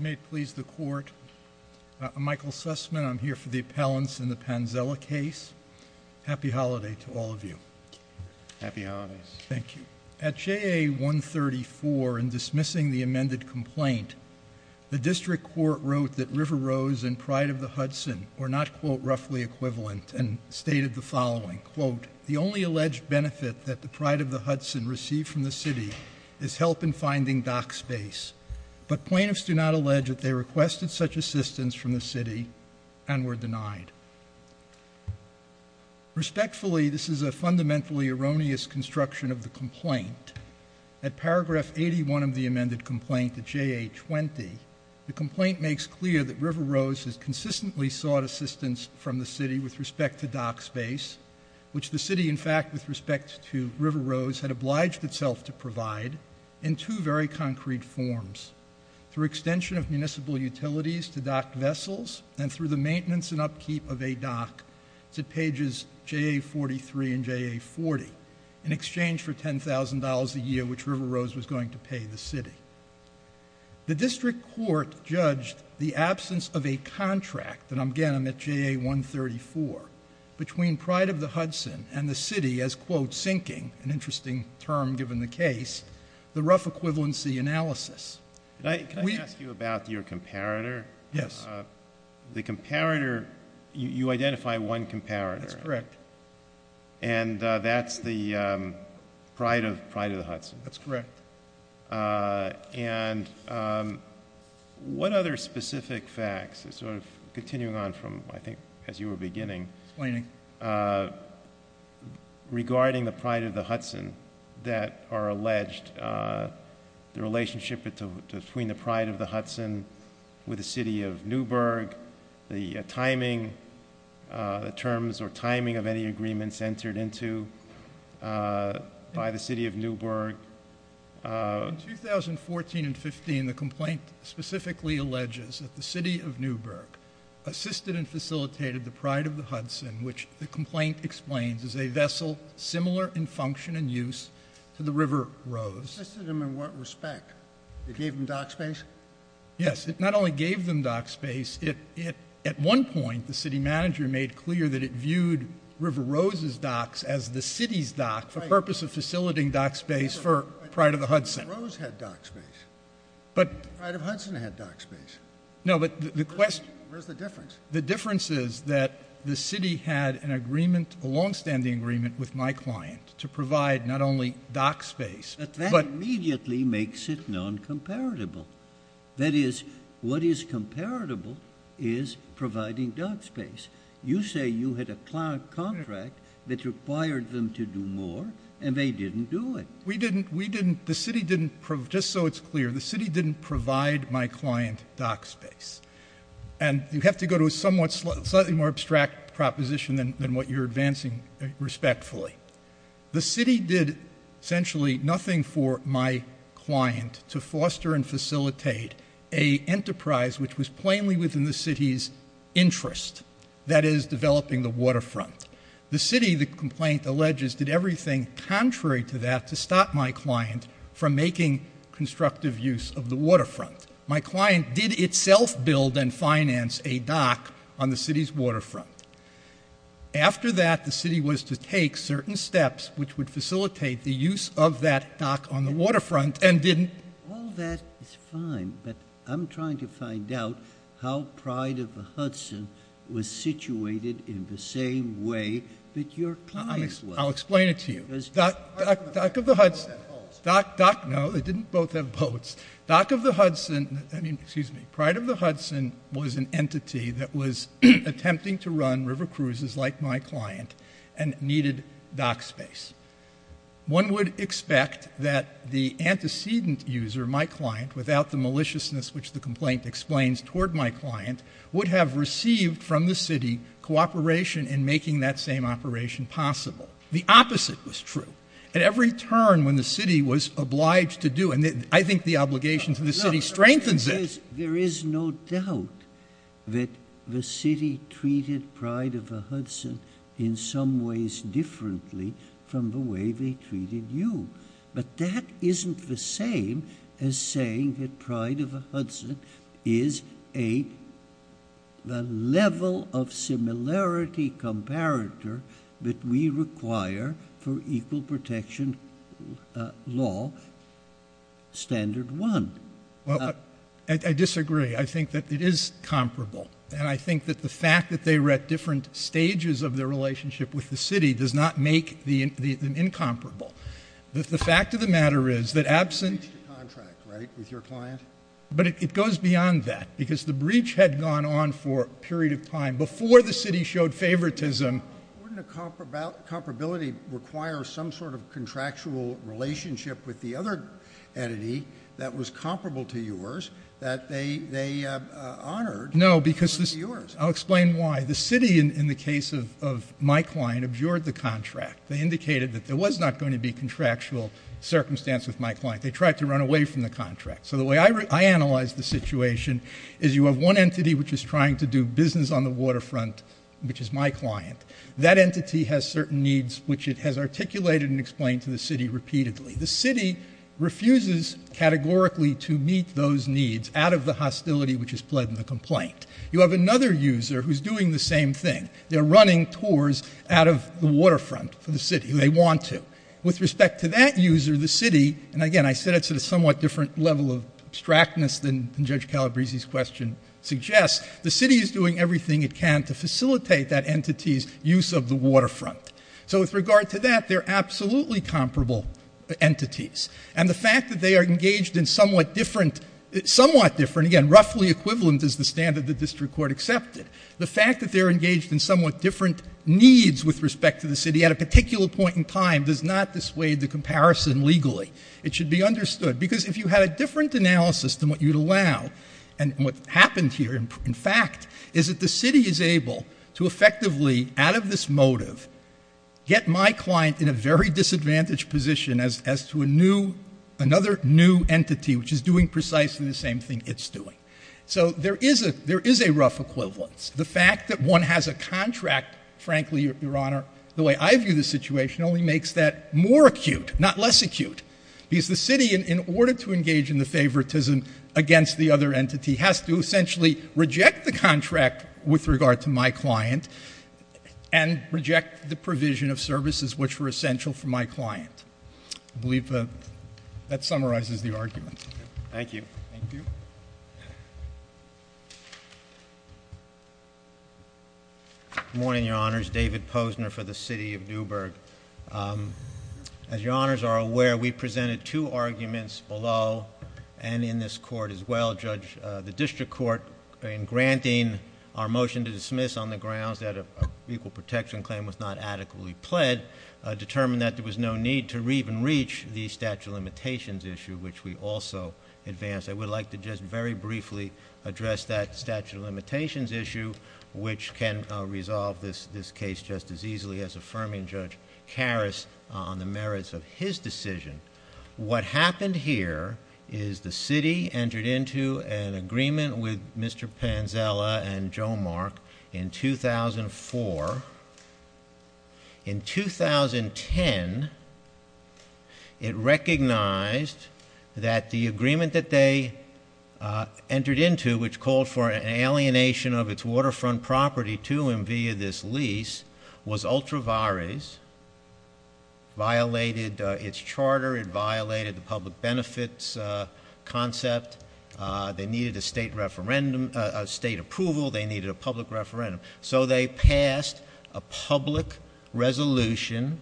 May please the court. I'm Michael Sussman. I'm here for the appellants in the Panzella case. Happy holiday to all of you. Happy holidays. Thank you. At JA 134 in dismissing the amended complaint, the district court wrote that River Rose and Pride of the Hudson were not quote roughly equivalent and stated the following quote, the only alleged benefit that the Pride of the Hudson received from the city is help in finding dock space, but plaintiffs do not allege that they requested such assistance from the city and were denied. Respectfully, this is a fundamentally erroneous construction of the complaint. At paragraph 81 of the amended complaint at JA 20, the complaint makes clear that River Rose has consistently sought assistance from the city with respect to dock space, which the city in fact with respect to River Rose had obliged itself to provide in two very concrete forms, through extension of municipal utilities to dock vessels and through the maintenance and upkeep of a dock to pages JA 43 and JA 40 in exchange for $10,000 a year which River Rose was going to pay the city. The district court judged the absence of a contract, and again I'm at JA 134, between Pride of the Hudson and the city as quote sinking, an interesting term given the case, the rough equivalency analysis. Can I ask you about your comparator? Yes. The comparator, you identify one comparator. That's correct. And that's the Pride of the Hudson. That's correct. And what other specific facts, sort of continuing on from I think as you were beginning, explaining, regarding the Pride of the Hudson that are alleged, the relationship between the Pride of the Hudson with the city of Newburgh, the timing, the terms or timing of any agreements entered into by the city of Newburgh. In 2014 and 15, the complaint specifically alleges that the city of Newburgh assisted and facilitated the Pride of the Hudson, which the complaint explains is a vessel similar in function and use to the River Rose. Assisted them in what respect? It gave them dock space? Yes. It not only gave them dock space, at one point the city manager made clear that it viewed River Rose's docks as the city's dock for purpose of facilitating dock space for Pride of the Hudson. River Rose had dock space. Pride of the Hudson had dock space. The city had an agreement, a long-standing agreement, with my client to provide not only dock space. But that immediately makes it non-comparatible. That is, what is comparable is providing dock space. You say you had a contract that required them to do more and they didn't do it. We didn't, we didn't, the city didn't, just so it's clear, the city didn't provide my client dock space. And you have to go to slightly more abstract proposition than what you're advancing respectfully. The city did essentially nothing for my client to foster and facilitate a enterprise which was plainly within the city's interest. That is, developing the waterfront. The city, the complaint alleges, did everything contrary to that to stop my client from making constructive use of the waterfront. My client had docked on the city's waterfront. After that, the city was to take certain steps which would facilitate the use of that dock on the waterfront and didn't... All that is fine, but I'm trying to find out how Pride of the Hudson was situated in the same way that your client was. I'll explain it to you. Dock, dock, dock, no, they didn't both have boats. Dock of the Hudson, I mean, excuse me, Pride of the Hudson was an entity that was attempting to run river cruises like my client and needed dock space. One would expect that the antecedent user, my client, without the maliciousness which the complaint explains toward my client, would have received from the city cooperation in making that same operation possible. The opposite was true. At every turn when the There is no doubt that the city treated Pride of the Hudson in some ways differently from the way they treated you, but that isn't the same as saying that Pride of the Hudson is a level of similarity comparator that we require for equal protection law standard one. Well, I disagree. I think that it is comparable, and I think that the fact that they were at different stages of their relationship with the city does not make them incomparable. That the fact of the matter is that absent... But it goes beyond that because the breach had gone on for a period of time before the city showed favoritism. Wouldn't a comparability require some sort of contractual relationship with the other entity that was comparable to yours that they honored? No, because... I'll explain why. The city, in the case of my client, abjured the contract. They indicated that there was not going to be contractual circumstance with my client. They tried to run away from the contract. So the way I analyze the situation is you have one entity which is trying to do business on the waterfront, which is my client. That entity has certain needs which it has articulated and explained to the city repeatedly. The city refuses categorically to meet those needs out of the hostility which is pled in the complaint. You have another user who's doing the same thing. They're running tours out of the waterfront for the city. They want to. With respect to that user, the city... And again, I said it's at a somewhat different level of abstractness than Judge Calabresi's question suggests. The city is doing everything it can to facilitate that entity's use of the waterfront. So with regard to that, they're absolutely comparable entities. And the fact that they are engaged in somewhat different... somewhat different, again, roughly equivalent is the standard the district court accepted. The fact that they're engaged in somewhat different needs with respect to the city at a particular point in time does not dissuade the comparison legally. It should be understood. Because if you had a different analysis than what you'd see, what happened here, in fact, is that the city is able to effectively, out of this motive, get my client in a very disadvantaged position as to a new... another new entity which is doing precisely the same thing it's doing. So there is a... there is a rough equivalence. The fact that one has a contract, frankly, Your Honor, the way I view the situation only makes that more acute, not less acute. Because the city, in order to engage in the favoritism against the other entity, has to essentially reject the contract with regard to my client and reject the provision of services which were essential for my client. I believe that summarizes the argument. Thank you. Good morning, Your Honors. David Posner for the City of Newburgh. As Your Honors are aware, Judge, the district court, in granting our motion to dismiss on the grounds that a equal protection claim was not adequately pled, determined that there was no need to even reach the statute of limitations issue, which we also advanced. I would like to just very briefly address that statute of limitations issue, which can resolve this case just as easily as affirming Judge Karas on the merits of his decision. What happened here is the city entered into an agreement with Mr. Panzella and Joe Mark in 2004. In 2010, it recognized that the agreement that they entered into, which called for an alienation of its waterfront property to him via this lease, was ultra vares, violated its charter, it violated the public benefits concept. They needed a state referendum, a state approval. They needed a public referendum. So they passed a public resolution,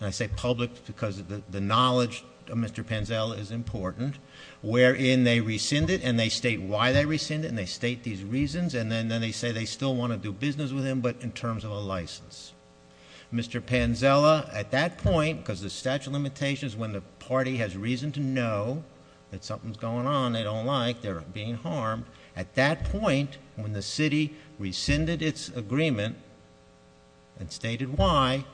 and I say public because the knowledge of Mr. Panzella is important, wherein they rescind it and they state why they rescind it, and they state these reasons, and then they say they still want to do business with him, but in terms of a license. Mr. Panzella, at that point, because the statute of limitations, when the party has reason to know that something's going on they don't like, they're being harmed, at that point when the city rescinded its agreement and stated why,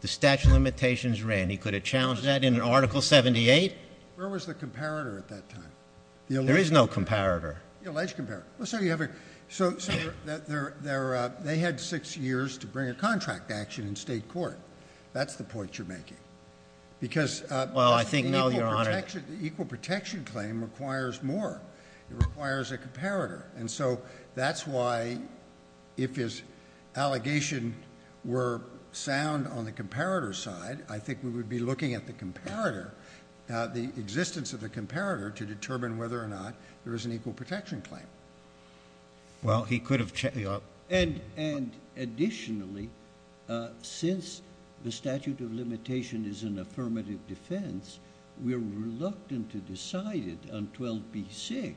the statute of limitations ran. He could have challenged that in an article 78. Where was the comparator at that time? There is no comparator. The alleged comparator. So there they had six years to bring a contract action in state court. That's the point you're making. Because, well, I think now you're on it. The equal protection claim requires more. It requires a comparator, and so that's why if his allegation were sound on the comparator side, I think we would be looking at the comparator, the existence of the comparator, to determine whether or not there is an equal And additionally, since the statute of limitation is an affirmative defense, we're reluctant to decide it on 12b-6,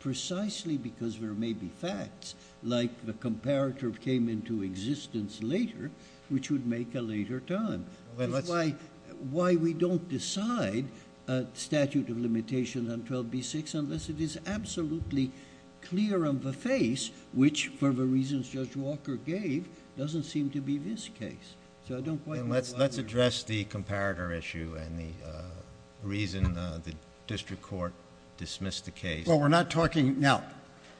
precisely because there may be facts, like the comparator came into existence later, which would make a later time. That's why we don't decide a statute of limitation on 12b-6 unless it is the reasons Judge Walker gave doesn't seem to be this case. So I don't quite know why... Let's address the comparator issue and the reason the district court dismissed the case. Well, we're not talking... Now,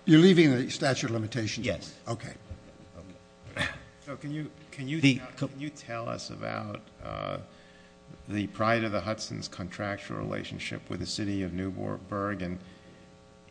you're leaving the statute of limitations? Yes. Okay. Can you tell us about the Pride of the Hudson's contractual relationship with the city of Newportburg, and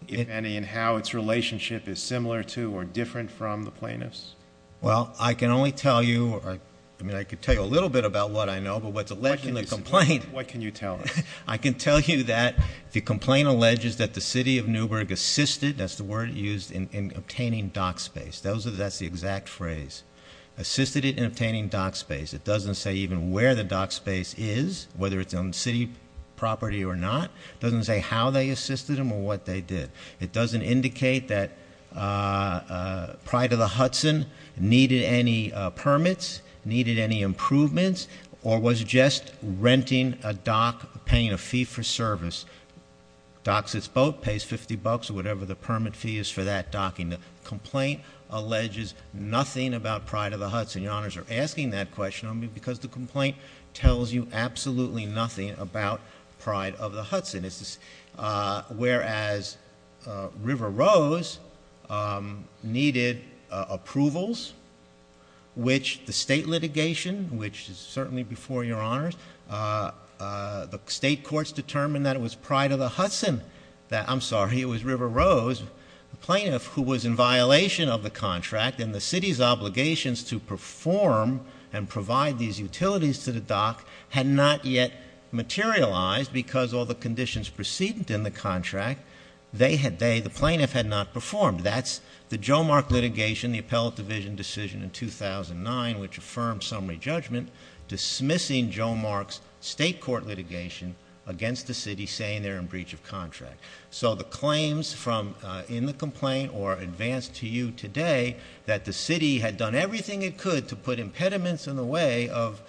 if any, and how its relationship is similar to or different from the plaintiff's? Well, I can only tell you... I mean, I could tell you a little bit about what I know, but what's alleged in the complaint... What can you tell us? I can tell you that the complaint alleges that the city of Newportburg assisted... that's the word used in obtaining dock space. That's the exact phrase. Assisted it in obtaining dock space. It doesn't say even where the dock space is, whether it's on city property or not. It doesn't say how they assisted them or what they did. It doesn't indicate that Pride of the Hudson needed any permits, needed any improvements, or was just renting a dock, paying a fee for service. Docks its boat, pays 50 bucks or whatever the permit fee is for that docking. The complaint alleges nothing about Pride of the Hudson. Your Honors are asking that question of me because the state litigation, which is certainly before your Honors, the state courts determined that it was Pride of the Hudson that... I'm sorry, it was River Rose, the plaintiff, who was in violation of the contract and the city's obligations to perform and provide these utilities to the dock had not yet materialized because all the conditions precedent in the contract, the plaintiff had not performed. That's the Joe Mark litigation, the appellate division decision in 2009, which affirmed summary judgment dismissing Joe Mark's state court litigation against the city saying they're in breach of contract. So the claims from in the complaint or advanced to you today that the city had done everything it could to put impediments in the way of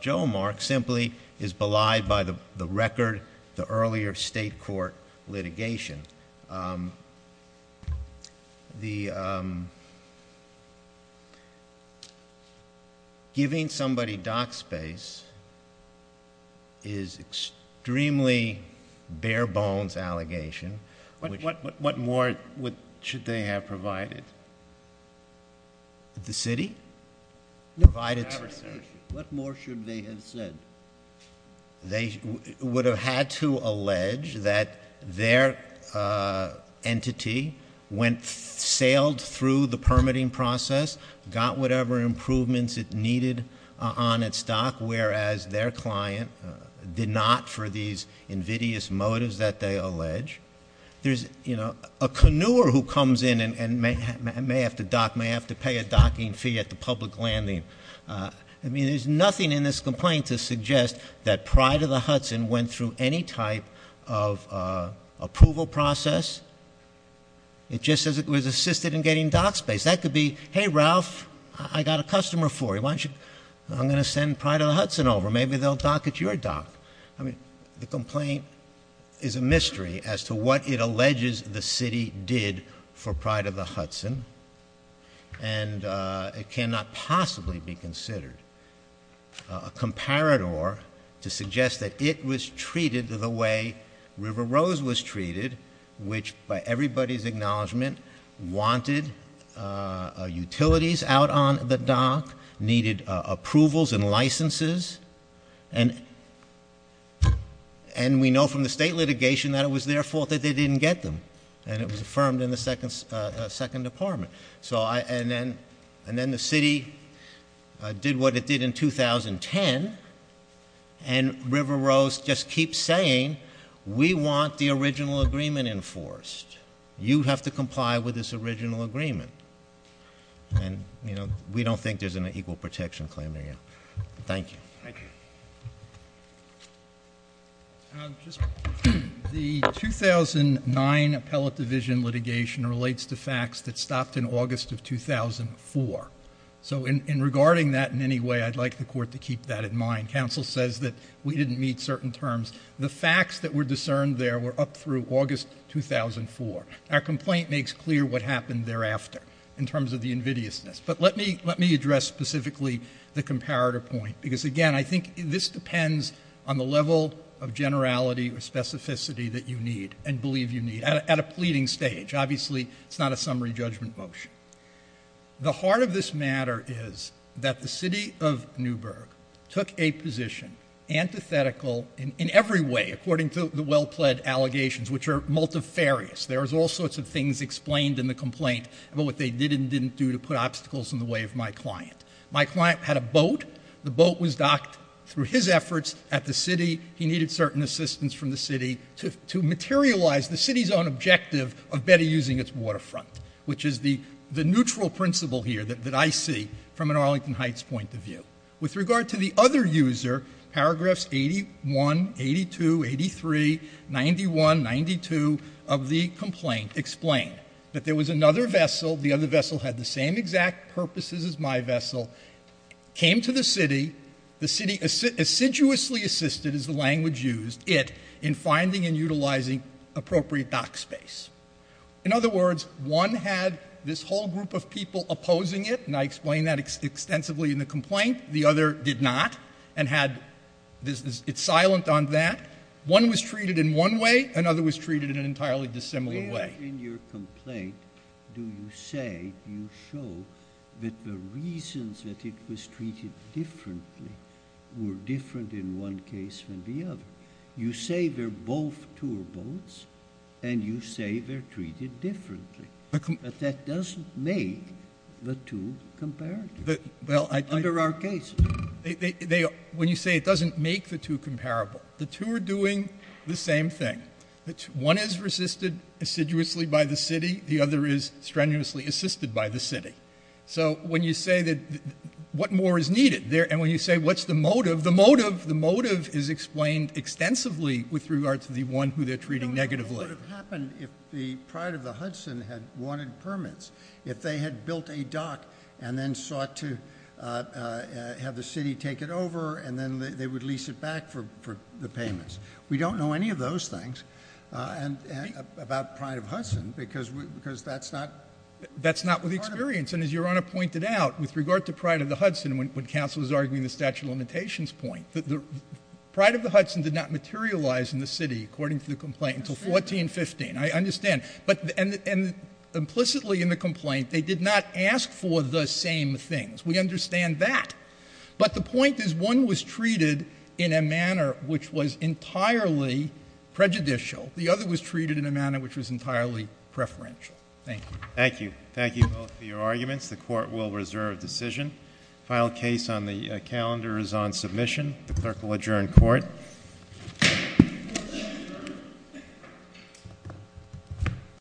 Joe Mark simply is belied by the record, the earlier state court litigation. Giving somebody dock space is extremely bare bones allegation. What more should they have provided? The city? No. What more should they have said? They would have had to allege that their entity went, sailed through the permitting process, got whatever improvements it needed on its dock, whereas their client did not for these invidious motives that they allege. There's, you know, a canoer who comes in and may have to dock, may have to pay a docking fee at the public landing. I mean, there's nothing in this complaint to suggest that Pride of the Hudson went through any type of approval process. It just says it was assisted in getting dock space. That could be, hey, Ralph, I got a customer for you. Why don't you, I'm going to send Pride of the Hudson over. Maybe they'll dock at your dock. I mean, the complaint is a mystery as to what it alleges the city did for Pride of the Hudson. And it cannot possibly be more to suggest that it was treated the way River Rose was treated, which by everybody's acknowledgement, wanted utilities out on the dock, needed approvals and licenses. And we know from the state litigation that it was their fault that they didn't get them. And it was affirmed in the second department. And then the city did what it did in 2010, and River Rose just keeps saying, we want the original agreement enforced. You have to comply with this original agreement. And, you know, we don't think there's an equal protection claim there yet. Thank you. The 2009 appellate division litigation relates to facts that stopped in August of 2004. So in regarding that in any way, I'd like the court to keep that in mind. Counsel says that we didn't meet certain terms. The facts that were discerned there were up through August 2004. Our complaint makes clear what happened thereafter in terms of the invidiousness. But let me address specifically the I think this depends on the level of generality or specificity that you need and believe you need at a pleading stage. Obviously, it's not a summary judgment motion. The heart of this matter is that the city of Newburgh took a position antithetical in every way, according to the well pled allegations, which are multifarious. There's all sorts of things explained in the complaint about what they did and didn't do to put obstacles in the way of my client. My client had a docked through his efforts at the city. He needed certain assistance from the city to materialize the city's own objective of better using its waterfront, which is the neutral principle here that I see from an Arlington Heights point of view. With regard to the other user, paragraphs 81, 82, 83, 91, 92 of the complaint explained that there was another vessel. The other vessel had the same exact purposes as my vessel, came to the city. The city assiduously assisted, as the language used, it in finding and utilizing appropriate dock space. In other words, one had this whole group of people opposing it, and I explained that extensively in the complaint. The other did not and had it silent on that. One was treated in one way. Another was treated in an entirely dissimilar way. In your complaint, do you say, do you show that the reasons that it was treated differently were different in one case than the other? You say they're both tour boats, and you say they're treated differently, but that doesn't make the two comparable under our case. When you say it doesn't make the two comparable, the two are doing the same thing. One is resisted assiduously by the city, the other is strenuously assisted by the city. When you say what more is needed, and when you say what's the motive, the motive is explained extensively with regard to the one who they're treating negatively. I don't know what would have happened if the pride of the Hudson had wanted permits, if they had built a dock and then sought to have the city take it over, and then they would lease it back for the payments. We don't know any of those things about pride of Hudson, because that's not part of it. That's not with experience. And as Your Honor pointed out, with regard to pride of the Hudson, when counsel was arguing the statute of limitations point, pride of the Hudson did not materialize in the city, according to the complaint, until 1415. I understand. And implicitly in the complaint, they did not ask for the same things. We understand that. But the point is one was treated in a manner which was entirely prejudicial. The other was treated in a manner which was entirely preferential. Thank you. Thank you. Thank you both for your arguments. The court will reserve decision. Final case on the calendar is on submission. The clerk will adjourn court.